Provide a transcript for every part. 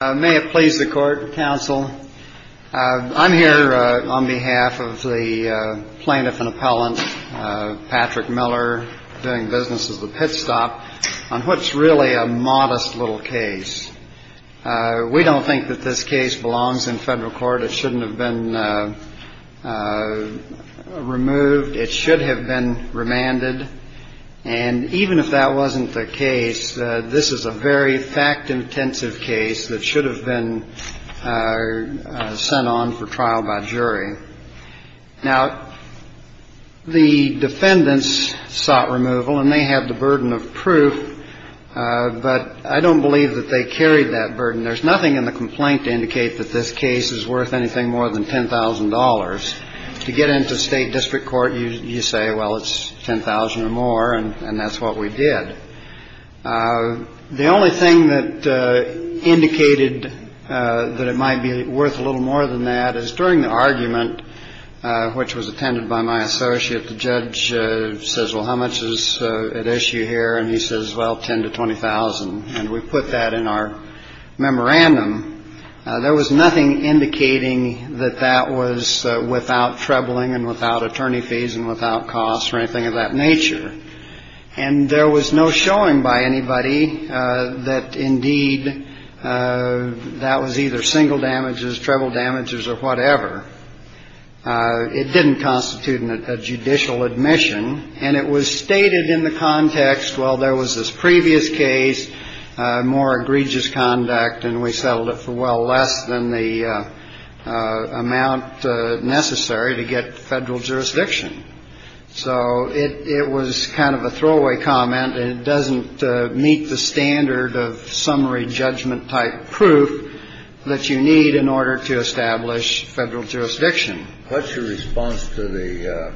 May it please the Court, Counsel. I'm here on behalf of the plaintiff and appellant, Patrick Miller, doing business as the pit stop, on what's really a modest little case. We don't think that this case belongs in federal court. It shouldn't have been removed. It should have been remanded. And even if that wasn't the case, this is a very fact-intensive case that should have been sent on for trial by jury. Now, the defendants sought removal, and they had the burden of proof, but I don't believe that they carried that burden. There's nothing in the complaint to indicate that this case is worth anything more than $10,000. To get into state district court, you say, well, it's $10,000 or more, and that's what we did. The only thing that indicated that it might be worth a little more than that is during the argument, which was attended by my associate, the judge says, well, how much is at issue here? And he says, well, $10,000 to $20,000. And we put that in our memorandum. There was nothing indicating that that was without trebling and without attorney fees and without costs or anything of that nature. And there was no showing by anybody that, indeed, that was either single damages, treble damages, or whatever. It didn't constitute a judicial admission. And it was stated in the context, well, there was this previous case, more egregious conduct, and we settled it for well less than the amount necessary to get federal jurisdiction. So it was kind of a throwaway comment. It doesn't meet the standard of summary judgment-type proof that you need in order to establish federal jurisdiction. What's your response to the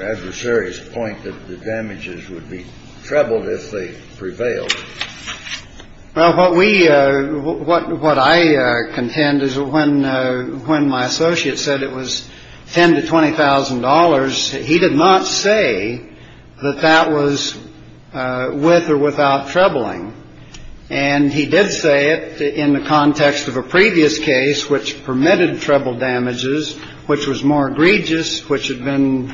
adversary's point that the damages would be trebled if they prevailed? Well, what I contend is when my associate said it was $10,000 to $20,000, he did not say that that was with or without trebling. And he did say it in the context of a previous case, which permitted treble damages, which was more egregious, which had been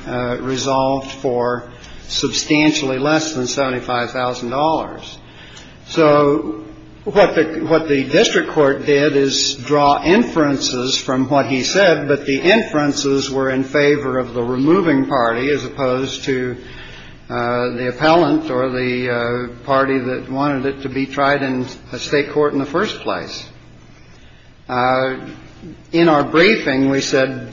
resolved for substantially less than $75,000. So what the district court did is draw inferences from what he said, but the inferences were in favor of the removing party as opposed to the appellant or the party that wanted it to be tried in a state court in the first place. In our briefing, we said,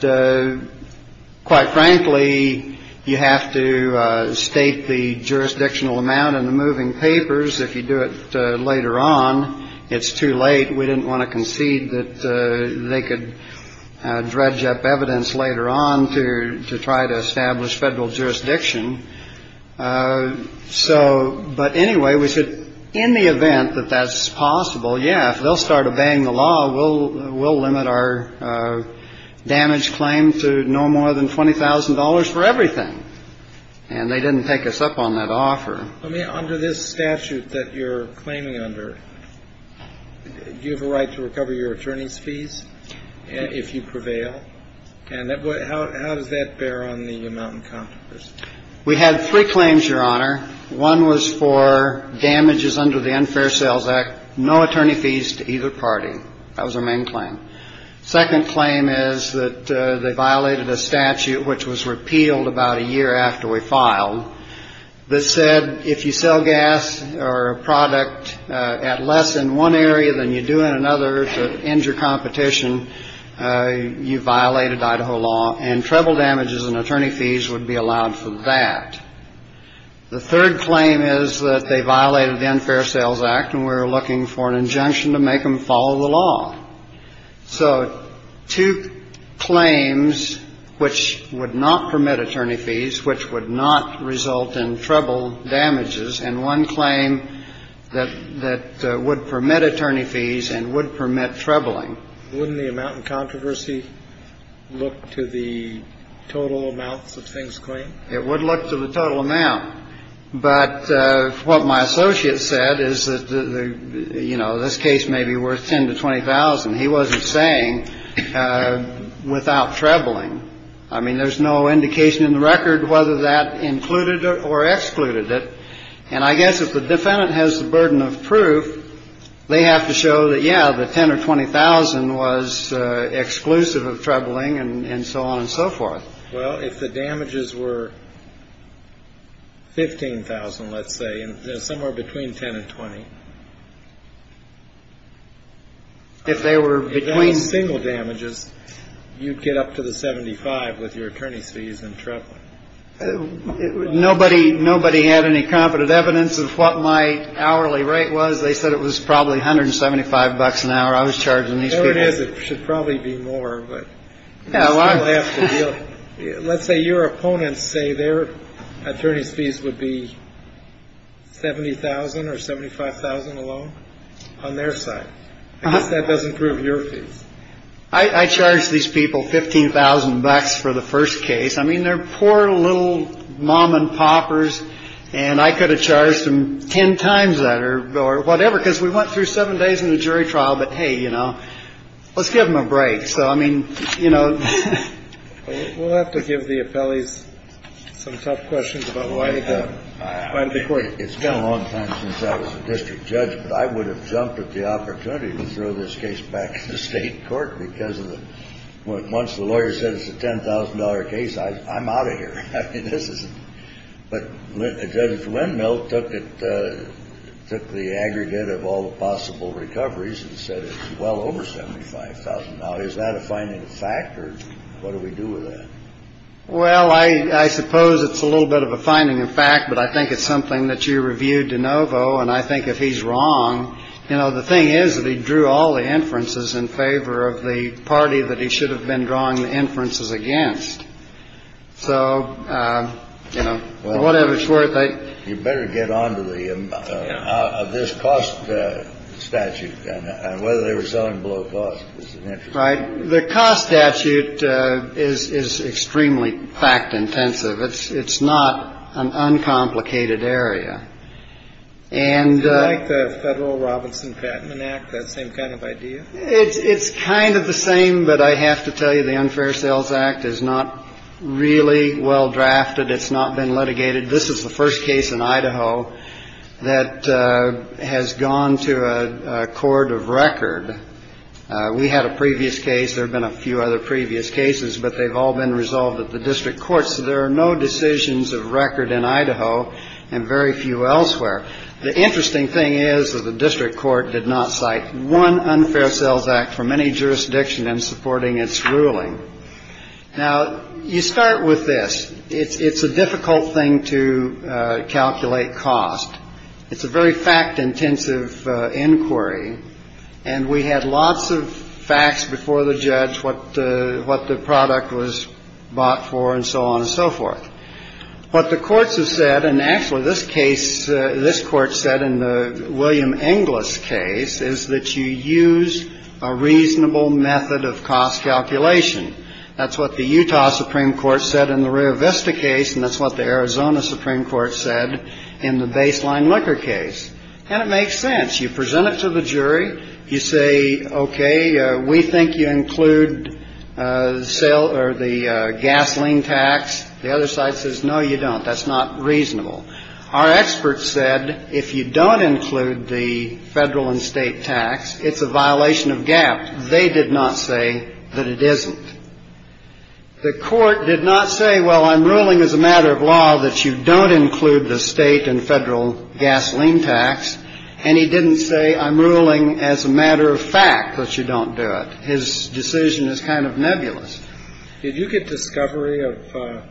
quite frankly, you have to state the jurisdictional amount in the moving papers. If you do it later on, it's too late. We didn't want to concede that they could dredge up evidence later on to try to establish federal jurisdiction. So but anyway, we said in the event that that's possible, yeah, if they'll start obeying the law, we'll limit our damage claim to no more than $20,000 for everything. And they didn't take us up on that offer. I mean, under this statute that you're claiming under, do you have a right to recover your attorney's fees if you prevail? And how does that bear on the Mountain Competitors? We had three claims, Your Honor. One was for damages under the Unfair Sales Act, no attorney fees to either party. That was our main claim. Second claim is that they violated a statute which was repealed about a year after we filed. This said if you sell gas or a product at less in one area than you do in another to end your competition, you violated Idaho law, and treble damages and attorney fees would be allowed for that. The third claim is that they violated the Unfair Sales Act, and we're looking for an injunction to make them follow the law. So two claims which would not permit attorney fees, which would not result in treble damages, and one claim that would permit attorney fees and would permit trebling. Wouldn't the amount in controversy look to the total amounts of things claimed? It would look to the total amount. But what my associate said is that, you know, this case may be worth $10,000 to $20,000. He wasn't saying without trebling. I mean, there's no indication in the record whether that included or excluded it. And I guess if the defendant has the burden of proof, they have to show that, yeah, the $10,000 or $20,000 was exclusive of trebling and so on and so forth. Well, if the damages were $15,000, let's say, somewhere between $10,000 and $20,000. If they were between single damages, you'd get up to the $75,000 with your attorney fees and trebling. Nobody had any confident evidence of what my hourly rate was. They said it was probably $175 an hour. I was charging these people. No, it is. It should probably be more, but you still have to deal. Let's say your opponents say their attorney's fees would be $70,000 or $75,000 alone on their side. I guess that doesn't prove your fees. I charged these people $15,000 for the first case. I mean, they're poor little mom and poppers. And I could have charged them ten times that or whatever, because we went through seven days in the jury trial. But, hey, you know, let's give them a break. So, I mean, you know. We'll have to give the appellees some tough questions about why the court. It's been a long time since I was a district judge, but I would have jumped at the opportunity to throw this case back to the State Court because once the lawyer says it's a $10,000 case, I'm out of here. I mean, this is. But Judge Windmill took the aggregate of all the possible recoveries and said it's well over $75,000. Is that a finding of fact, or what do we do with that? Well, I suppose it's a little bit of a finding of fact, but I think it's something that you reviewed DeNovo, and I think if he's wrong. You know, the thing is that he drew all the inferences in favor of the party that he should have been drawing the inferences against. So, you know, whatever it's worth, you better get on to the cost statute and whether they were selling below cost. Right. The cost statute is extremely fact intensive. It's not an uncomplicated area. And like the Federal Robinson Patent Act, that same kind of idea. It's kind of the same. But I have to tell you, the Unfair Sales Act is not really well drafted. It's not been litigated. This is the first case in Idaho that has gone to a court of record. We had a previous case. There have been a few other previous cases, but they've all been resolved at the district courts. There are no decisions of record in Idaho and very few elsewhere. The interesting thing is that the district court did not cite one unfair sales act from any jurisdiction in supporting its ruling. Now, you start with this. It's a difficult thing to calculate cost. It's a very fact intensive inquiry. And we had lots of facts before the judge. What what the product was bought for and so on and so forth. What the courts have said and actually this case, this court said in the William English case is that you use a reasonable method of cost calculation. That's what the Utah Supreme Court said in the Rio Vista case. And that's what the Arizona Supreme Court said in the baseline liquor case. And it makes sense. You present it to the jury. You say, OK, we think you include sale or the gasoline tax. The other side says, no, you don't. That's not reasonable. Our experts said if you don't include the federal and state tax, it's a violation of gap. They did not say that it isn't. The court did not say, well, I'm ruling as a matter of law that you don't include the state and federal gasoline tax. And he didn't say I'm ruling as a matter of fact that you don't do it. His decision is kind of nebulous. Did you get discovery of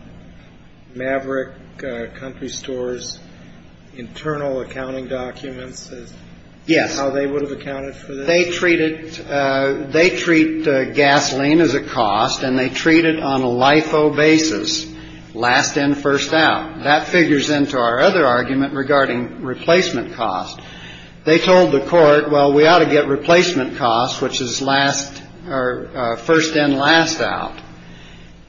Maverick Country Stores internal accounting documents? Yes. They would have accounted for. They treat it. They treat gasoline as a cost and they treat it on a life basis. Last in, first out. That figures into our other argument regarding replacement cost. They told the court, well, we ought to get replacement costs, which is last or first in, last out.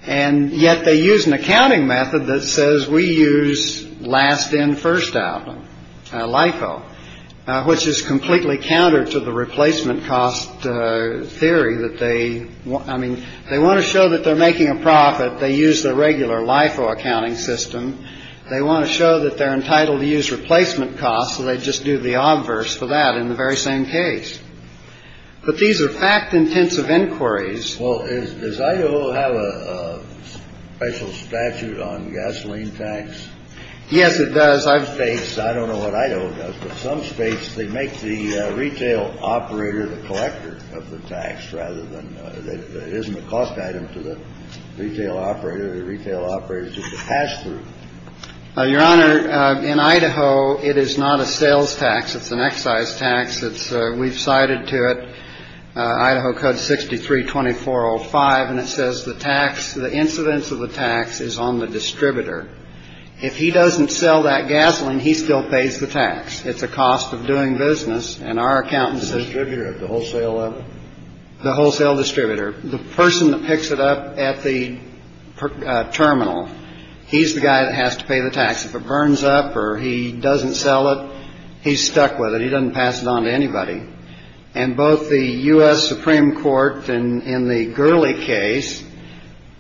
And yet they use an accounting method that says we use last in, first out. Life, which is completely counter to the replacement cost theory that they want. I mean, they want to show that they're making a profit. They use the regular life accounting system. They want to show that they're entitled to use replacement costs. So they just do the obverse for that in the very same case. But these are fact intensive inquiries. Well, does Idaho have a special statute on gasoline tax? Yes, it does. I've faced. I don't know what I know. But some states, they make the retail operator the collector of the tax rather than isn't a cost item to the retail operator. The retail operator is just a pass through your honor in Idaho. It is not a sales tax. It's an excise tax. It's we've cited to it. Idaho code sixty three, twenty four or five. And it says the tax, the incidence of the tax is on the distributor. If he doesn't sell that gasoline, he still pays the tax. It's a cost of doing business. And our accountants distributor at the wholesale level, the wholesale distributor, the person that picks it up at the terminal. He's the guy that has to pay the tax. If it burns up or he doesn't sell it, he's stuck with it. Doesn't pass it on to anybody. And both the U.S. Supreme Court in the Gurley case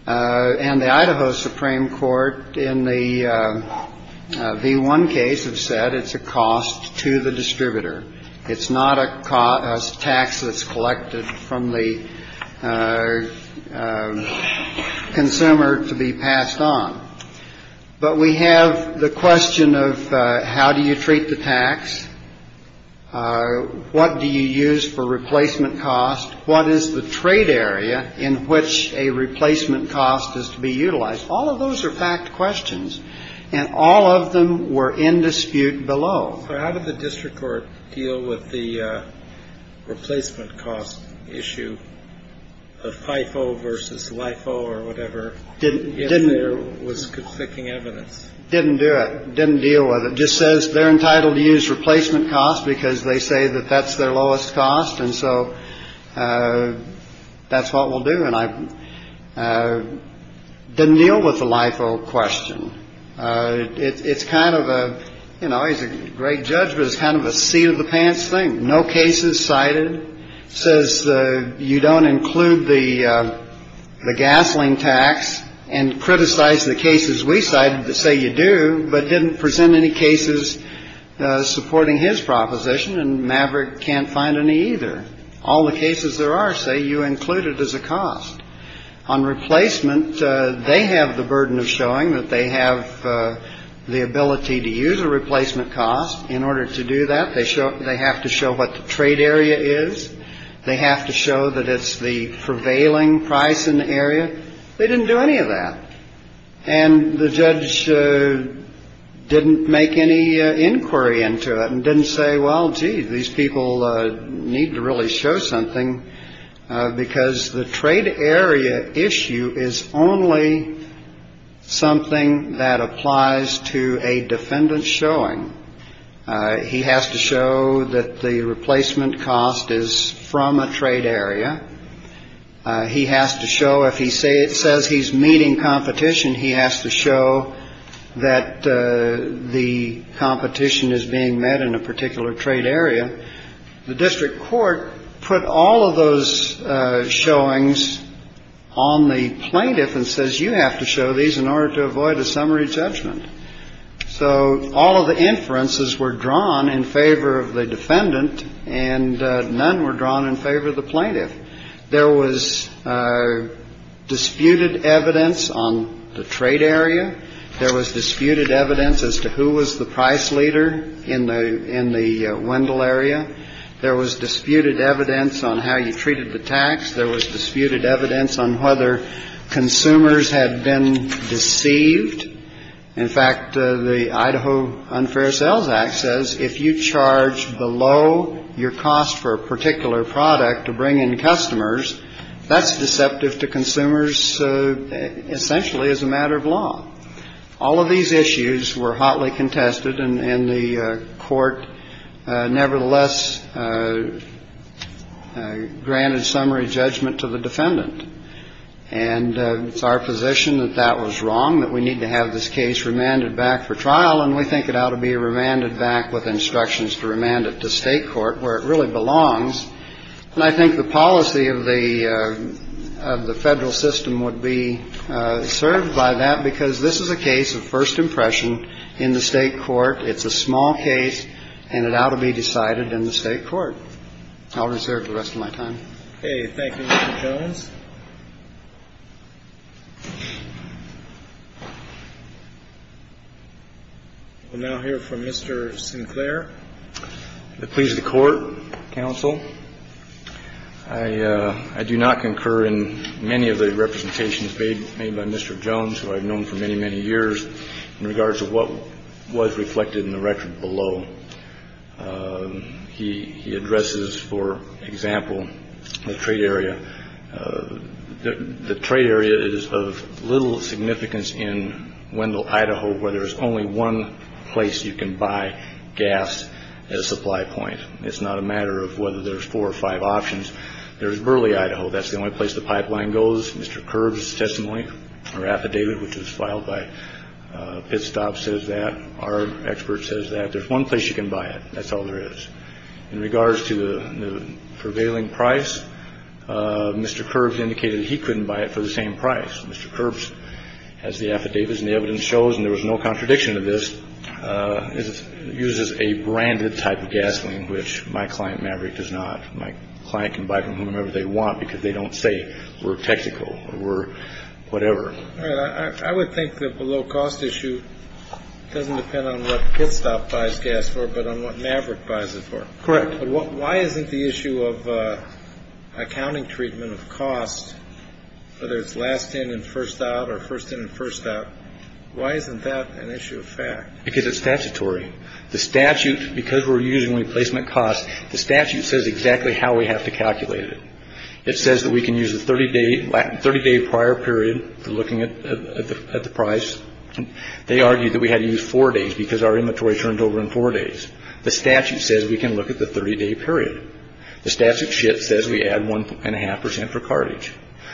and the Idaho Supreme Court in the V1 case have said it's a cost to the distributor. It's not a cost tax that's collected from the consumer to be passed on. But we have the question of how do you treat the tax? What do you use for replacement cost? What is the trade area in which a replacement cost is to be utilized? All of those are fact questions and all of them were in dispute below. How did the district court deal with the replacement cost issue of FIFO versus LIFO or whatever? It didn't. There was conflicting evidence. Didn't do it. Didn't deal with it. Just says they're entitled to use replacement costs because they say that that's their lowest cost. And so that's what we'll do. And I didn't deal with the LIFO question. It's kind of a, you know, he's a great judge, but it's kind of a seat of the pants thing. No cases cited says you don't include the gasoline tax and criticize the cases. We cited to say you do, but didn't present any cases supporting his proposition. And Maverick can't find any either. All the cases there are say you include it as a cost on replacement. They have the burden of showing that they have the ability to use a replacement cost in order to do that. They show they have to show what the trade area is. They have to show that it's the prevailing price in the area. They didn't do any of that. And the judge didn't make any inquiry into it and didn't say, well, gee, these people need to really show something because the trade area issue is only something that applies to a defendant showing. He has to show that the replacement cost is from a trade area. He has to show if he say it says he's meeting competition, he has to show that the competition is being met in a particular trade area. The district court put all of those showings on the plaintiff and says, you have to show these in order to avoid a summary judgment. So all of the inferences were drawn in favor of the defendant and none were drawn in favor of the plaintiff. There was disputed evidence on the trade area. There was disputed evidence as to who was the price leader in the in the Wendell area. There was disputed evidence on how you treated the tax. There was disputed evidence on whether consumers had been deceived. In fact, the Idaho Unfair Sales Act says if you charge below your cost for a particular product to bring in customers, that's deceptive to consumers essentially as a matter of law. All of these issues were hotly contested and the court nevertheless granted summary judgment to the defendant. And it's our position that that was wrong, that we need to have this case remanded back for trial. And we think it ought to be remanded back with instructions to remand it to state court where it really belongs. And I think the policy of the Federal system would be served by that because this is a case of first impression in the state court. It's a small case and it ought to be decided in the state court. I'll reserve the rest of my time. Okay. Thank you, Mr. Jones. We'll now hear from Mr. Sinclair. The pleas of the court, counsel, I do not concur in many of the representations made by Mr. Jones, who I've known for many, many years in regards to what was reflected in the record below. He addresses, for example, the trade area. The trade area is of little significance in Wendell, Idaho, where there is only one place you can buy gas as a supply point. It's not a matter of whether there's four or five options. There is Burley, Idaho. That's the only place the pipeline goes. Mr. Curbs testimony or affidavit, which was filed by Pitstop, says that our expert says that there's one place you can buy it. That's all there is. In regards to the prevailing price, Mr. Curbs indicated he couldn't buy it for the same price. Mr. Curbs has the affidavits and the evidence shows, and there was no contradiction to this, uses a branded type of gasoline, which my client, Maverick, does not. My client can buy from whomever they want because they don't say we're technical or we're whatever. I would think that below cost issue doesn't depend on what Pitstop buys gas for, but on what Maverick buys it for. Correct. Why isn't the issue of accounting treatment of cost, whether it's last in and first out or first in and first out? Why isn't that an issue of fact? Because it's statutory. The statute, because we're using replacement costs, the statute says exactly how we have to calculate it. It says that we can use the 30-day prior period for looking at the price. They argue that we had to use four days because our inventory turned over in four days. The statute says we can look at the 30-day period. The statute says we add 1.5% for cartage.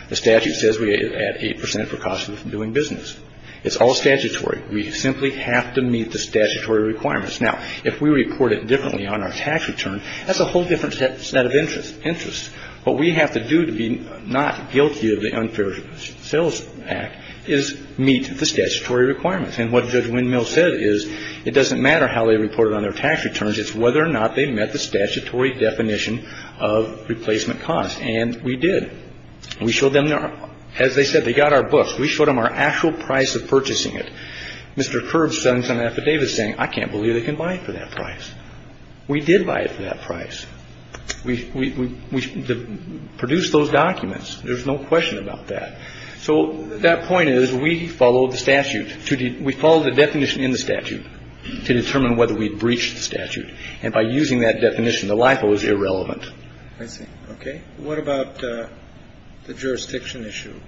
The statute says we add 8% for cost of doing business. It's all statutory. We simply have to meet the statutory requirements. Now, if we report it differently on our tax return, that's a whole different set of interests. What we have to do to be not guilty of the Unfair Sales Act is meet the statutory requirements. And what Judge Windmill said is it doesn't matter how they report it on their tax returns. It's whether or not they met the statutory definition of replacement costs. And we did. We showed them, as they said, they got our books. We showed them our actual price of purchasing it. Mr. Kerb sends an affidavit saying, I can't believe they can buy it for that price. We did buy it for that price. We produced those documents. There's no question about that. So that point is we followed the statute. We followed the definition in the statute to determine whether we breached the statute. And by using that definition, the LIFO is irrelevant. I see. Okay. What about the jurisdiction issue?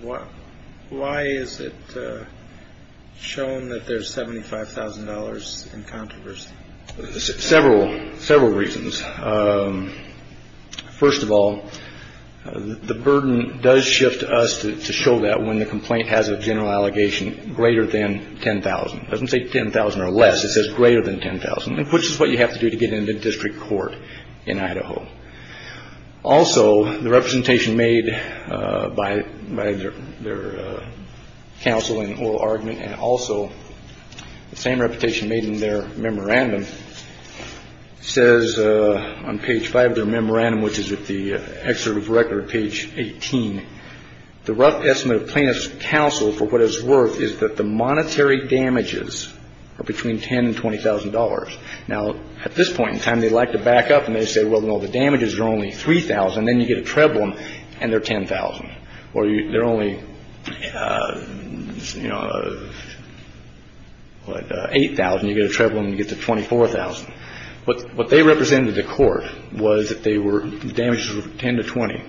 Why is it shown that there's $75,000 in controversy? Several reasons. First of all, the burden does shift to us to show that when the complaint has a general allegation greater than $10,000. It doesn't say $10,000 or less. It says greater than $10,000, which is what you have to do to get into district court in Idaho. Also, the representation made by their counsel in oral argument, and also the same reputation made in their memorandum, says on page 5 of their memorandum, which is at the excerpt of record, page 18, the rough estimate of plaintiff's counsel for what it's worth is that the monetary damages are between $10,000 and $20,000. Now, at this point in time, they like to back up and they say, well, no, the damages are only $3,000. Then you get a treble and they're $10,000. Or they're only $8,000. You get a treble and you get to $24,000. What they represented to court was that the damages were $10,000 to $20,000.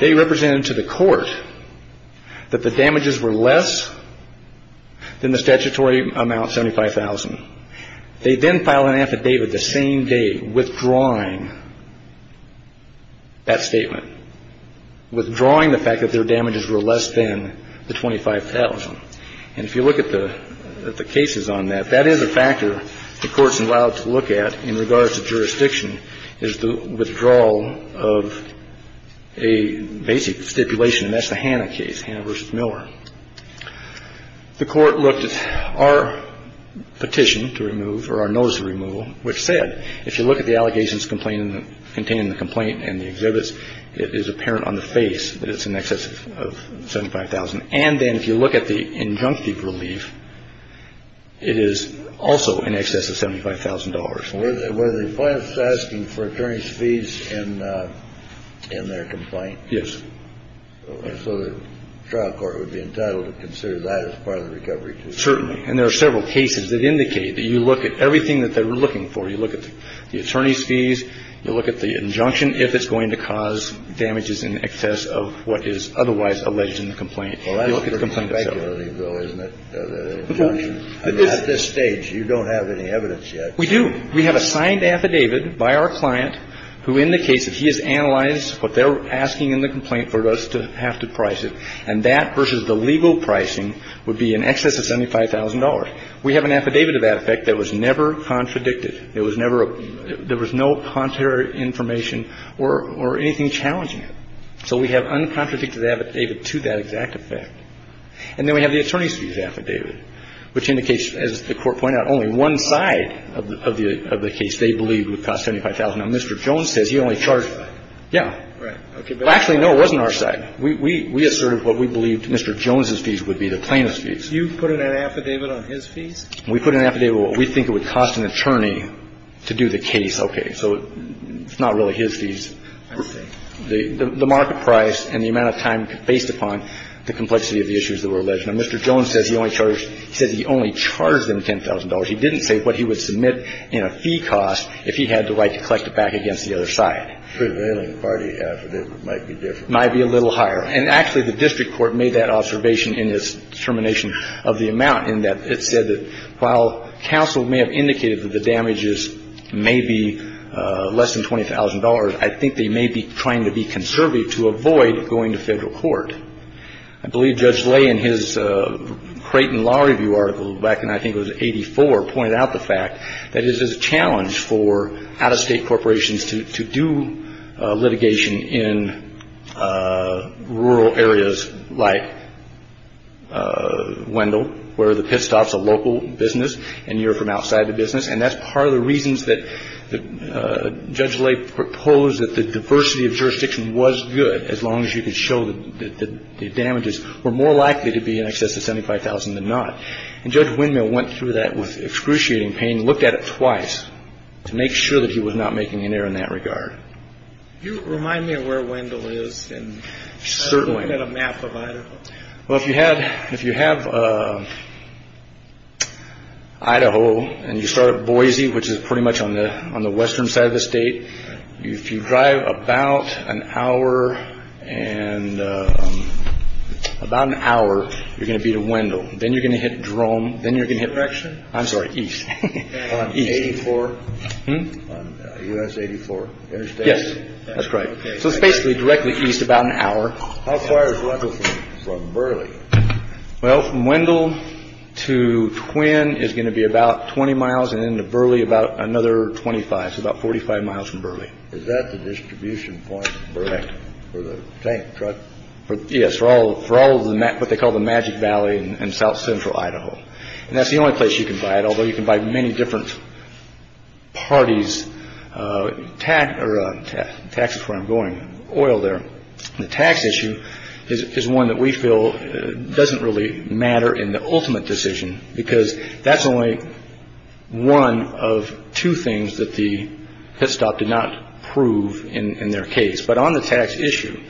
They represented to the court that the damages were less than the statutory amount, $75,000. They then file an affidavit the same day withdrawing that statement, withdrawing the fact that their damages were less than the $25,000. And if you look at the cases on that, that is a factor the Court's allowed to look at in regards to jurisdiction, is the withdrawal of a basic stipulation, and that's the Hanna case, Hanna v. Miller. The Court looked at our petition to remove, or our notice of removal, which said, if you look at the allegations containing the complaint and the exhibits, it is apparent on the face that it's in excess of $75,000. And then if you look at the injunctive relief, it is also in excess of $75,000. Was the plaintiff asking for attorney's fees in their complaint? Yes. So the trial court would be entitled to consider that as part of the recovery, too? Certainly. And there are several cases that indicate that you look at everything that they were looking for. You look at the attorney's fees. You look at the injunction, if it's going to cause damages in excess of what is otherwise alleged in the complaint. Well, that's pretty speculative, though, isn't it, the injunction? At this stage, you don't have any evidence yet. We do. We have a signed affidavit by our client who indicates that he has analyzed what they're asking in the complaint for us to have to price it. And that versus the legal pricing would be in excess of $75,000. We have an affidavit of that effect that was never contradicted. There was never a – there was no contrary information or anything challenging it. So we have uncontradicted affidavit to that exact effect. And then we have the attorney's fees affidavit, which indicates, as the Court pointed out, only one side of the case they believe would cost $75,000. Now, Mr. Jones says he only charged that. Yeah. Well, actually, no, it wasn't our side. We asserted what we believed Mr. Jones's fees would be the plaintiff's fees. You put an affidavit on his fees? We put an affidavit on what we think it would cost an attorney to do the case. Okay. So it's not really his fees. I understand. The market price and the amount of time based upon the complexity of the issues that were alleged. Now, Mr. Jones says he only charged – he said he only charged them $10,000. He didn't say what he would submit in a fee cost if he had the right to collect it back against the other side. So an alien party affidavit might be different. Might be a little higher. And actually, the district court made that observation in its determination of the amount in that it said that while counsel may have indicated that the damages may be less than $20,000, I think they may be trying to be conservative to avoid going to federal court. I believe Judge Lay in his Creighton Law Review article back in I think it was 1984 pointed out the fact that it is a challenge for out-of-state corporations to do litigation in rural areas like Wendell where the pit stop's a local business and you're from outside the business. And that's part of the reasons that Judge Lay proposed that the diversity of jurisdiction was good as long as you could show that the damages were more likely to be in excess of $75,000 than not. And Judge Windmill went through that with excruciating pain, looked at it twice to make sure that he was not making an error in that regard. Do you remind me of where Wendell is? Certainly. I've got a map of Idaho. Well, if you have Idaho and you start at Boise, which is pretty much on the western side of the state, if you drive about an hour, you're going to be to Wendell. Then you're going to hit Drome. Then you're going to hit East. On 84? Yes. That's right. So it's basically directly east about an hour. How far is Wendell from Burley? Well, from Wendell to Twin is going to be about 20 miles and then to Burley about another 25, so about 45 miles from Burley. Is that the distribution point in Burley for the tank truck? Yes. For all of what they call the Magic Valley in south-central Idaho. That's the only place you can buy it, although you can buy many different parties' oil there. The tax issue is one that we feel doesn't really matter in the ultimate decision, because that's only one of two things that the pit stop did not prove in their case. But on the tax issue,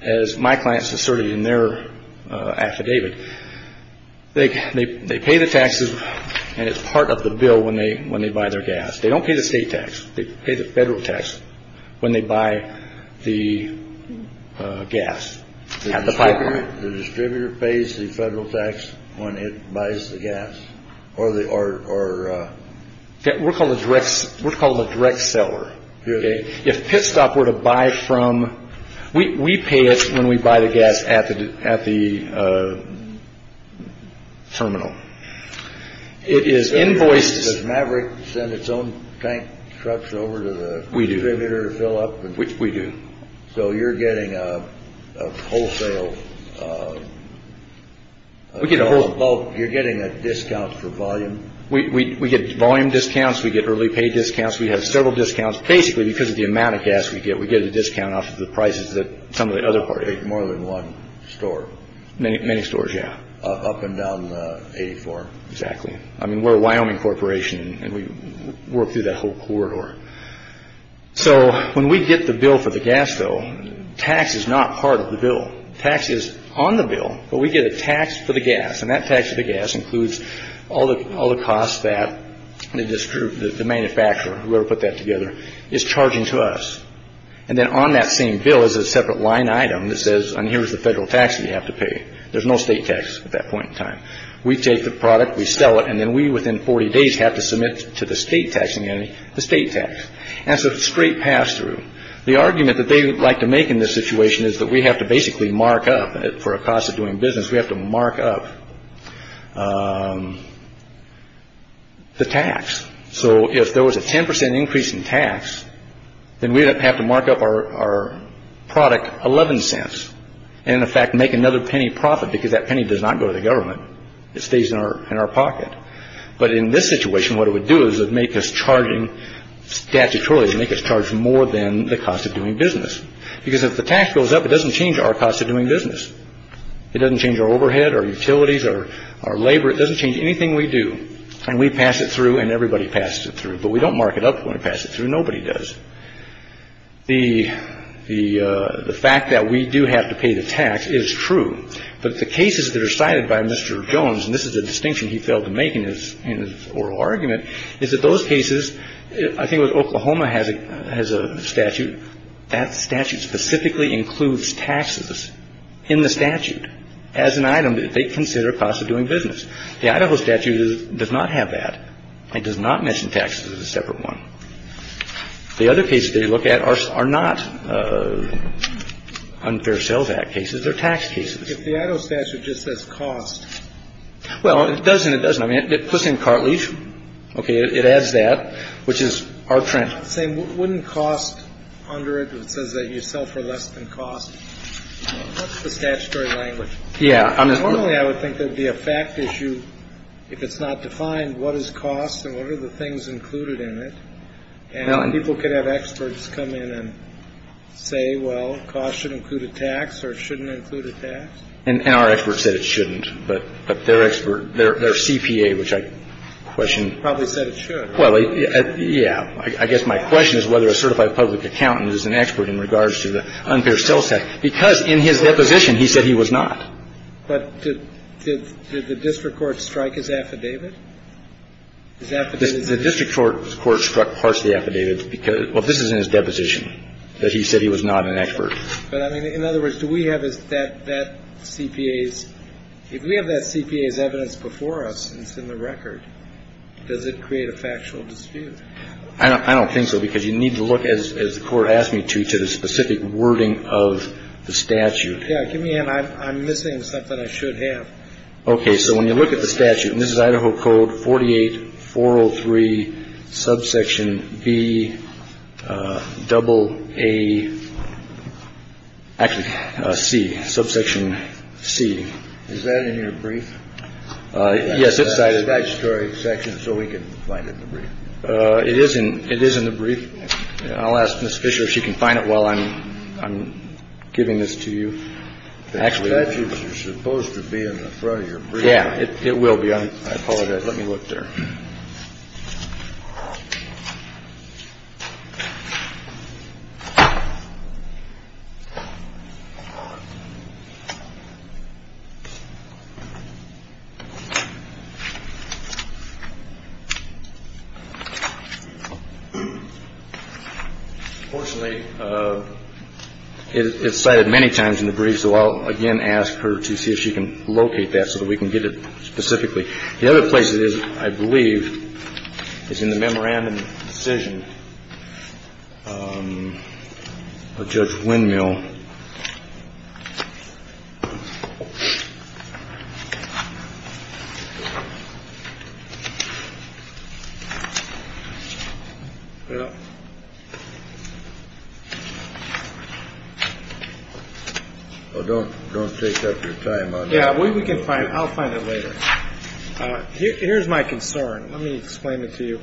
as my clients asserted in their affidavit, they pay the taxes, and it's part of the bill when they buy their gas. They don't pay the state tax. They pay the federal tax when they buy the gas at the pipeline. The distributor pays the federal tax when it buys the gas? We call it a direct seller. If pit stop were to buy from, we pay it when we buy the gas at the terminal. Does Maverick send its own tank trucks over to the distributor to fill up? We do. So you're getting a wholesale, you're getting a discount for volume? We get volume discounts. We get early pay discounts. We have several discounts. Basically, because of the amount of gas we get, we get a discount off of the prices that some of the other parties get. More than one store? Many stores, yeah. Up and down the 84? Exactly. We're a Wyoming corporation, and we work through that whole corridor. So when we get the bill for the gas, though, tax is not part of the bill. Tax is on the bill, but we get a tax for the gas, and that tax for the gas includes all the costs that the manufacturer, whoever put that together, is charging to us. And then on that same bill is a separate line item that says, and here's the federal tax that you have to pay. There's no state tax at that point in time. We take the product, we sell it, and then we, within 40 days, have to submit to the state taxing entity the state tax. And it's a straight pass-through. The argument that they like to make in this situation is that we have to basically mark up, for a cost of doing business, we have to mark up the tax. So if there was a 10% increase in tax, then we'd have to mark up our product 11 cents and, in fact, make another penny profit because that penny does not go to the government. It stays in our pocket. But in this situation, what it would do is make us charging statutorily, make us charge more than the cost of doing business. Because if the tax goes up, it doesn't change our cost of doing business. It doesn't change our overhead, our utilities, our labor. It doesn't change anything we do. And we pass it through and everybody passes it through. But we don't mark it up when we pass it through. Nobody does. The fact that we do have to pay the tax is true. But the cases that are cited by Mr. Jones, and this is a distinction he failed to make in his oral argument, is that those cases, I think it was Oklahoma has a statute, that statute specifically includes taxes in the statute as an item that they consider cost of doing business. The Idaho statute does not have that. It does not mention taxes as a separate one. The other cases they look at are not Unfair Sales Act cases. They're tax cases. If the Idaho statute just says cost. Well, it doesn't. It doesn't. I mean, it puts in cartilage. Okay. It adds that, which is our trend. It's not the same. Wouldn't cost under it if it says that you sell for less than cost? That's the statutory language. Yeah. Normally I would think there would be a fact issue if it's not defined what is cost and what are the things included in it. And people could have experts come in and say, well, cost should include a tax or it shouldn't include a tax. And our experts said it shouldn't. But their CPA, which I question. Probably said it should. Well, yeah. I guess my question is whether a certified public accountant is an expert in regards to the Unfair Sales Act. Because in his deposition, he said he was not. But did the district court strike his affidavit? His affidavit? The district court struck partially affidavit. Well, this is in his deposition, that he said he was not an expert. But, I mean, in other words, do we have that CPA's – if we have that CPA's evidence before us and it's in the record, does it create a factual dispute? I don't think so. Because you need to look, as the court asked me to, to the specific wording of the statute. Yeah. Give me a hand. I'm missing something I should have. Okay. So when you look at the statute, and this is Idaho Code 48403, subsection B, double A, actually C, subsection C. Is that in your brief? Yes. It's in the statutory section, so we can find it in the brief. It is in the brief. I'll ask Ms. Fisher if she can find it while I'm giving this to you. The statute is supposed to be in the front of your brief. Yeah. It will be. I apologize. Let me look there. Unfortunately, it's cited many times in the brief, so I'll again ask her to see if she can locate that so that we can get it specifically. The other place it is, I believe, is in the memorandum of decision of Judge Windmill. Don't take up your time. Yeah. We can find it. We can find it later. Here's my concern. Let me explain it to you,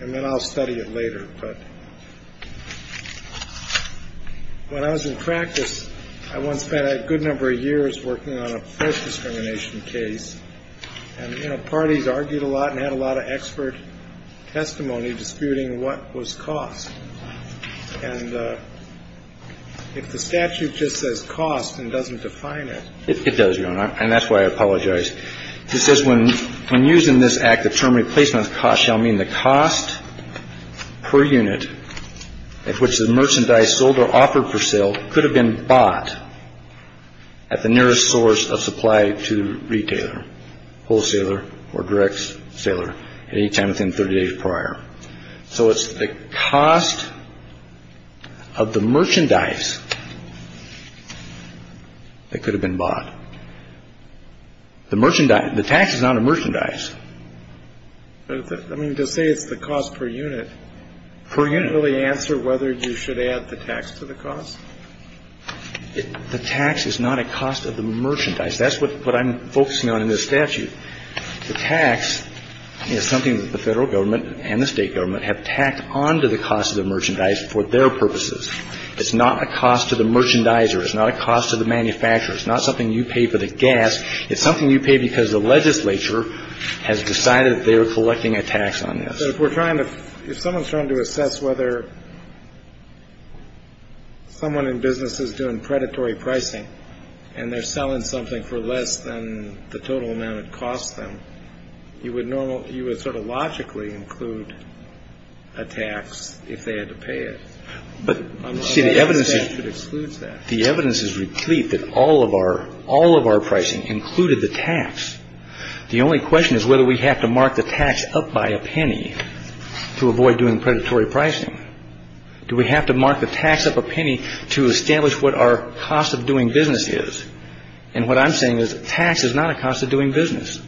and then I'll study it later. But when I was in practice, I once spent a good number of years working on a forced discrimination case. And, you know, parties argued a lot and had a lot of expert testimony disputing what was cost. And if the statute just says cost and doesn't define it. It does, Your Honor. And that's why I apologize. It says when I'm using this act, the term replacement cost shall mean the cost per unit at which the merchandise sold or offered for sale could have been bought at the nearest source of supply to retailer, wholesaler or direct seller any time within 30 days prior. So it's the cost of the merchandise that could have been bought. The merchandise, the tax is not a merchandise. I mean, to say it's the cost per unit. Per unit. Does it really answer whether you should add the tax to the cost? The tax is not a cost of the merchandise. That's what I'm focusing on in this statute. The tax is something that the federal government and the state government have tacked on to the cost of the merchandise for their purposes. It's not a cost to the merchandiser. It's not a cost to the manufacturer. It's not something you pay for the gas. It's something you pay because the legislature has decided they're collecting a tax on this. We're trying to if someone's trying to assess whether. Someone in business is doing predatory pricing and they're selling something for less than the total amount it costs them. You would normally you would sort of logically include a tax if they had to pay it. But the evidence that excludes that the evidence is replete that all of our all of our pricing included the tax. The only question is whether we have to mark the tax up by a penny to avoid doing predatory pricing. Do we have to mark the tax up a penny to establish what our cost of doing business is? And what I'm saying is tax is not a cost of doing business.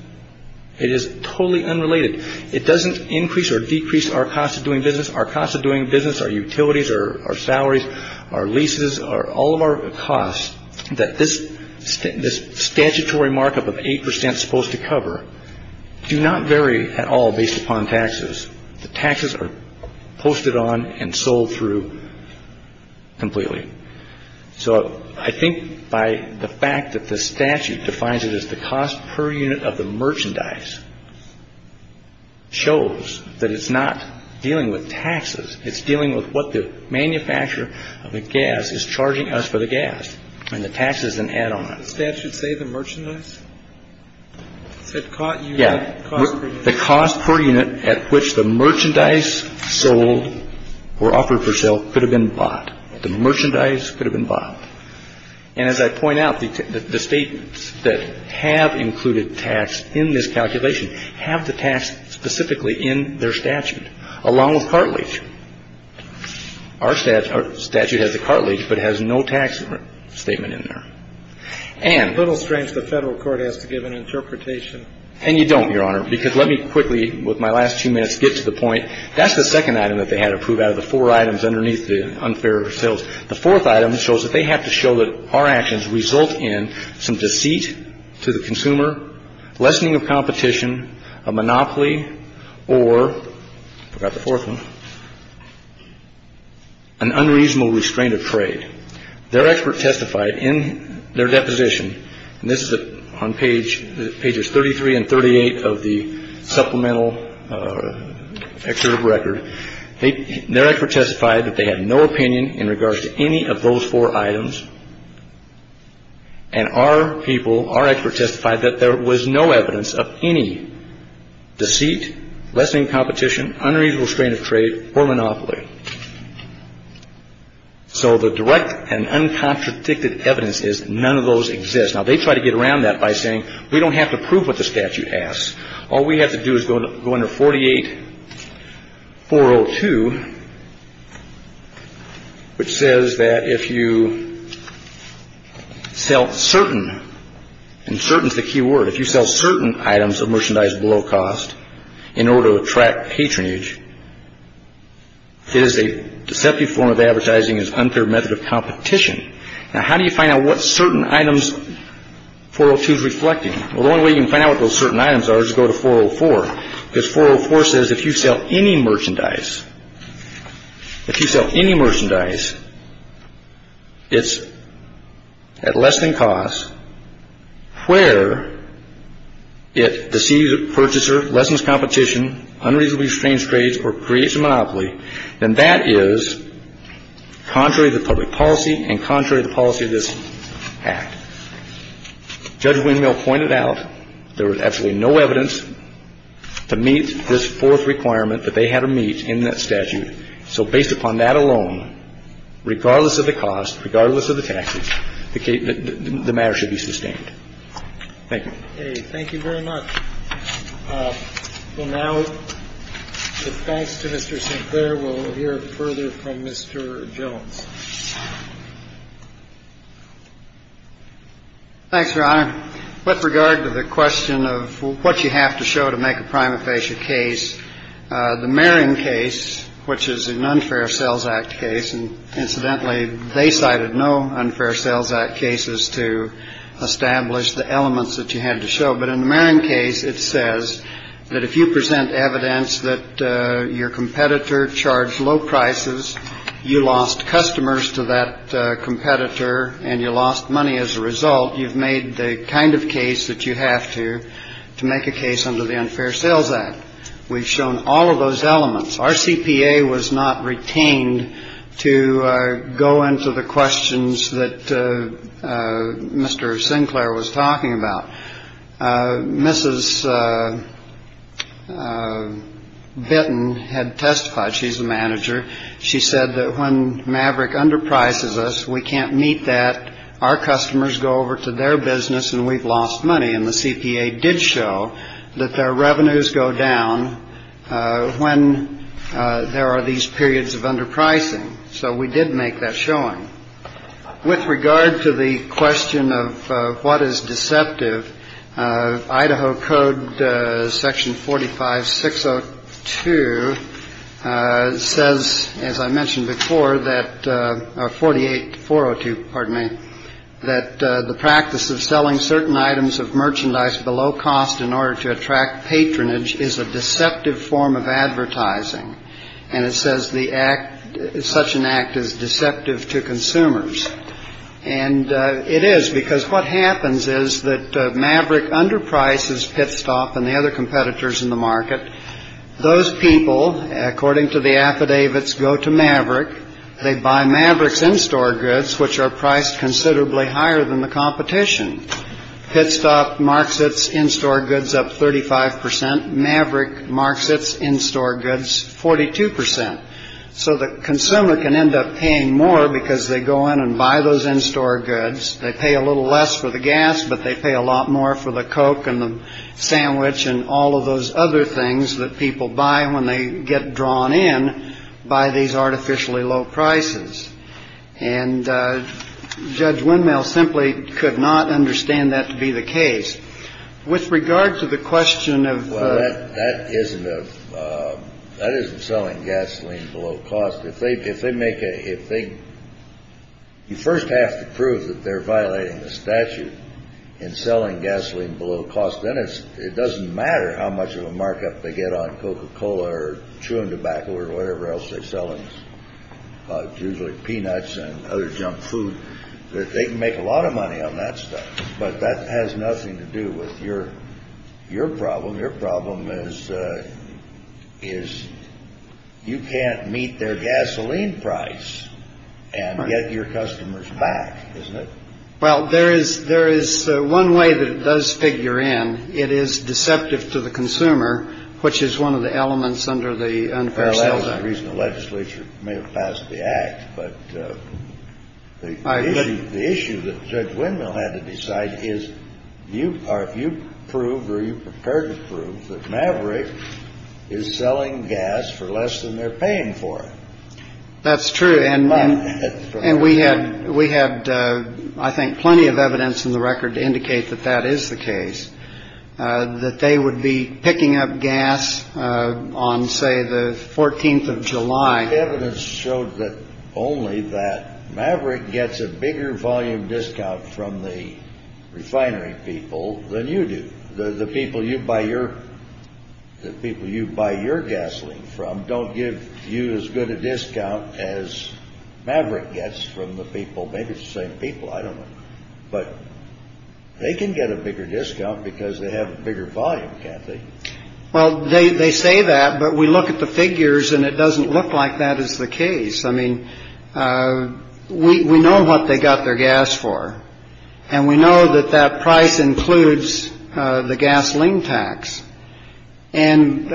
It is totally unrelated. It doesn't increase or decrease our cost of doing business. Our cost of doing business, our utilities, our salaries, our leases, are all of our costs that this this statutory markup of eight percent supposed to cover do not vary at all based upon taxes. The taxes are posted on and sold through completely. So I think by the fact that the statute defines it as the cost per unit of the merchandise shows that it's not dealing with taxes. It's dealing with what the manufacturer of the gas is charging us for the gas and the taxes and add on. The statute say the merchandise. It caught you. Yeah. The cost per unit at which the merchandise sold or offered for sale could have been bought. The merchandise could have been bought. And as I point out, the statements that have included tax in this calculation have the tax specifically in their statute along with cartilage. Our statute has a cartilage, but it has no tax statement in there. And little strange the federal court has to give an interpretation. And you don't, Your Honor, because let me quickly, with my last two minutes, get to the point. That's the second item that they had to prove out of the four items underneath the unfair sales. The fourth item shows that they have to show that our actions result in some deceit to the consumer, lessening of competition, a monopoly, or forgot the fourth one, an unreasonable restraint of trade. Their expert testified in their deposition, and this is on pages 33 and 38 of the supplemental excerpt of record. Their expert testified that they had no opinion in regards to any of those four items. And our people, our expert testified that there was no evidence of any deceit, lessening competition, unreasonable restraint of trade, or monopoly. So the direct and uncontradicted evidence is none of those exist. Now, they try to get around that by saying we don't have to prove what the statute asks. All we have to do is go under 48-402, which says that if you sell certain, and certain is the key word, if you sell certain items of merchandise below cost in order to attract patronage, it is a deceptive form of advertising. It's an unfair method of competition. Now, how do you find out what certain items 402 is reflecting? Well, the only way you can find out what those certain items are is to go to 404, because 404 says if you sell any merchandise, if you sell any merchandise, it's at less than cost, where it deceives the purchaser, lessens competition, unreasonably restraints trades, or creates a monopoly, then that is contrary to public policy and contrary to the policy of this Act. Judge Windmill pointed out there was absolutely no evidence to meet this fourth requirement that they had to meet in this Act. There is no evidence to meet that statute. So based upon that alone, regardless of the cost, regardless of the taxes, the matter should be sustained. Thank you. Thank you very much. Well, now, thanks to Mr. Sinclair. We'll hear further from Mr. Jones. Thanks, Ron. With regard to the question of what you have to show to make a prima facie case, the Marion case, which is an unfair sales act case. And incidentally, they cited no unfair sales act cases to establish the elements that you had to show. But in the Marion case, it says that if you present evidence that your competitor charged low prices, you lost customers to that competitor and you lost money as a result. You've made the kind of case that you have to to make a case under the Unfair Sales Act. We've shown all of those elements. Our CPA was not retained to go into the questions that Mr. Sinclair was talking about. Mrs. Benton had testified. She's the manager. She said that when Maverick underprices us, we can't meet that. Our customers go over to their business and we've lost money. And the CPA did show that their revenues go down when there are these periods of underpricing. So we did make that showing with regard to the question of what is deceptive. Idaho Code Section 45 6 0 2 says, as I mentioned before, that 48 4 0 2 pardon me, that the practice of selling certain items of merchandise below cost in order to attract patronage is a deceptive form of advertising. And it says the act is such an act as deceptive to consumers. And it is because what happens is that Maverick underprices Pitstop and the other competitors in the market. Those people, according to the affidavits, go to Maverick. They buy Maverick's in-store goods, which are priced considerably higher than the competition. Pitstop marks its in-store goods up 35 percent. Maverick marks its in-store goods 42 percent. So the consumer can end up paying more because they go in and buy those in-store goods. They pay a little less for the gas, but they pay a lot more for the Coke and the sandwich. And all of those other things that people buy when they get drawn in by these artificially low prices. And Judge Windmill simply could not understand that to be the case. With regard to the question of. That isn't a that isn't selling gasoline below cost. If they if they make a big. You first have to prove that they're violating the statute in selling gasoline below cost. Then it's it doesn't matter how much of a markup they get on Coca-Cola or chewing tobacco or whatever else they're selling. Peanuts and other junk food that they can make a lot of money on that stuff. But that has nothing to do with your your problem. Your problem is is you can't meet their gasoline price and get your customers back. Well, there is there is one way that does figure in. It is deceptive to the consumer, which is one of the elements under the unfair. That was the reason the legislature may have passed the act. But the issue that Judge Windmill had to decide is you are. You prove. Are you prepared to prove that Maverick is selling gas for less than they're paying for it? That's true. And we had we had, I think, plenty of evidence in the record to indicate that that is the case, that they would be picking up gas on, say, the 14th of July. Evidence showed that only that Maverick gets a bigger volume discount from the refinery people than you do. The people you buy your the people you buy your gasoline from don't give you as good a discount as Maverick gets from the people. Maybe it's the same people. I don't know. But they can get a bigger discount because they have a bigger volume. Well, they say that. But we look at the figures and it doesn't look like that is the case. I mean, we know what they got their gas for and we know that that price includes the gasoline tax. And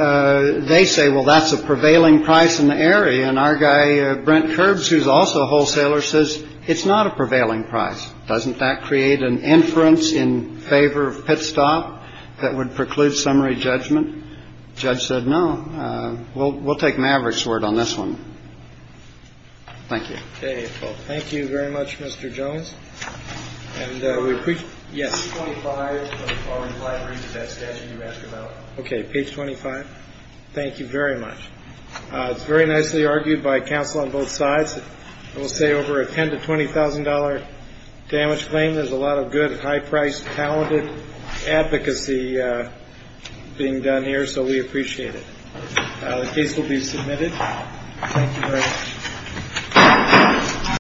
they say, well, that's a prevailing price in the area. And our guy, Brent Kerbs, who's also a wholesaler, says it's not a prevailing price. Doesn't that create an inference in favor of Pitstop that would preclude summary judgment? Judge said no. Well, we'll take Maverick's word on this one. Thank you. Thank you very much, Mr. Jones. And we appreciate. Yes. OK. Page twenty five. Thank you very much. It's very nicely argued by counsel on both sides. We'll say over a ten to twenty thousand dollar damage claim. There's a lot of good, high priced, talented advocacy being done here. So we appreciate it. The case will be submitted. Thank you very much.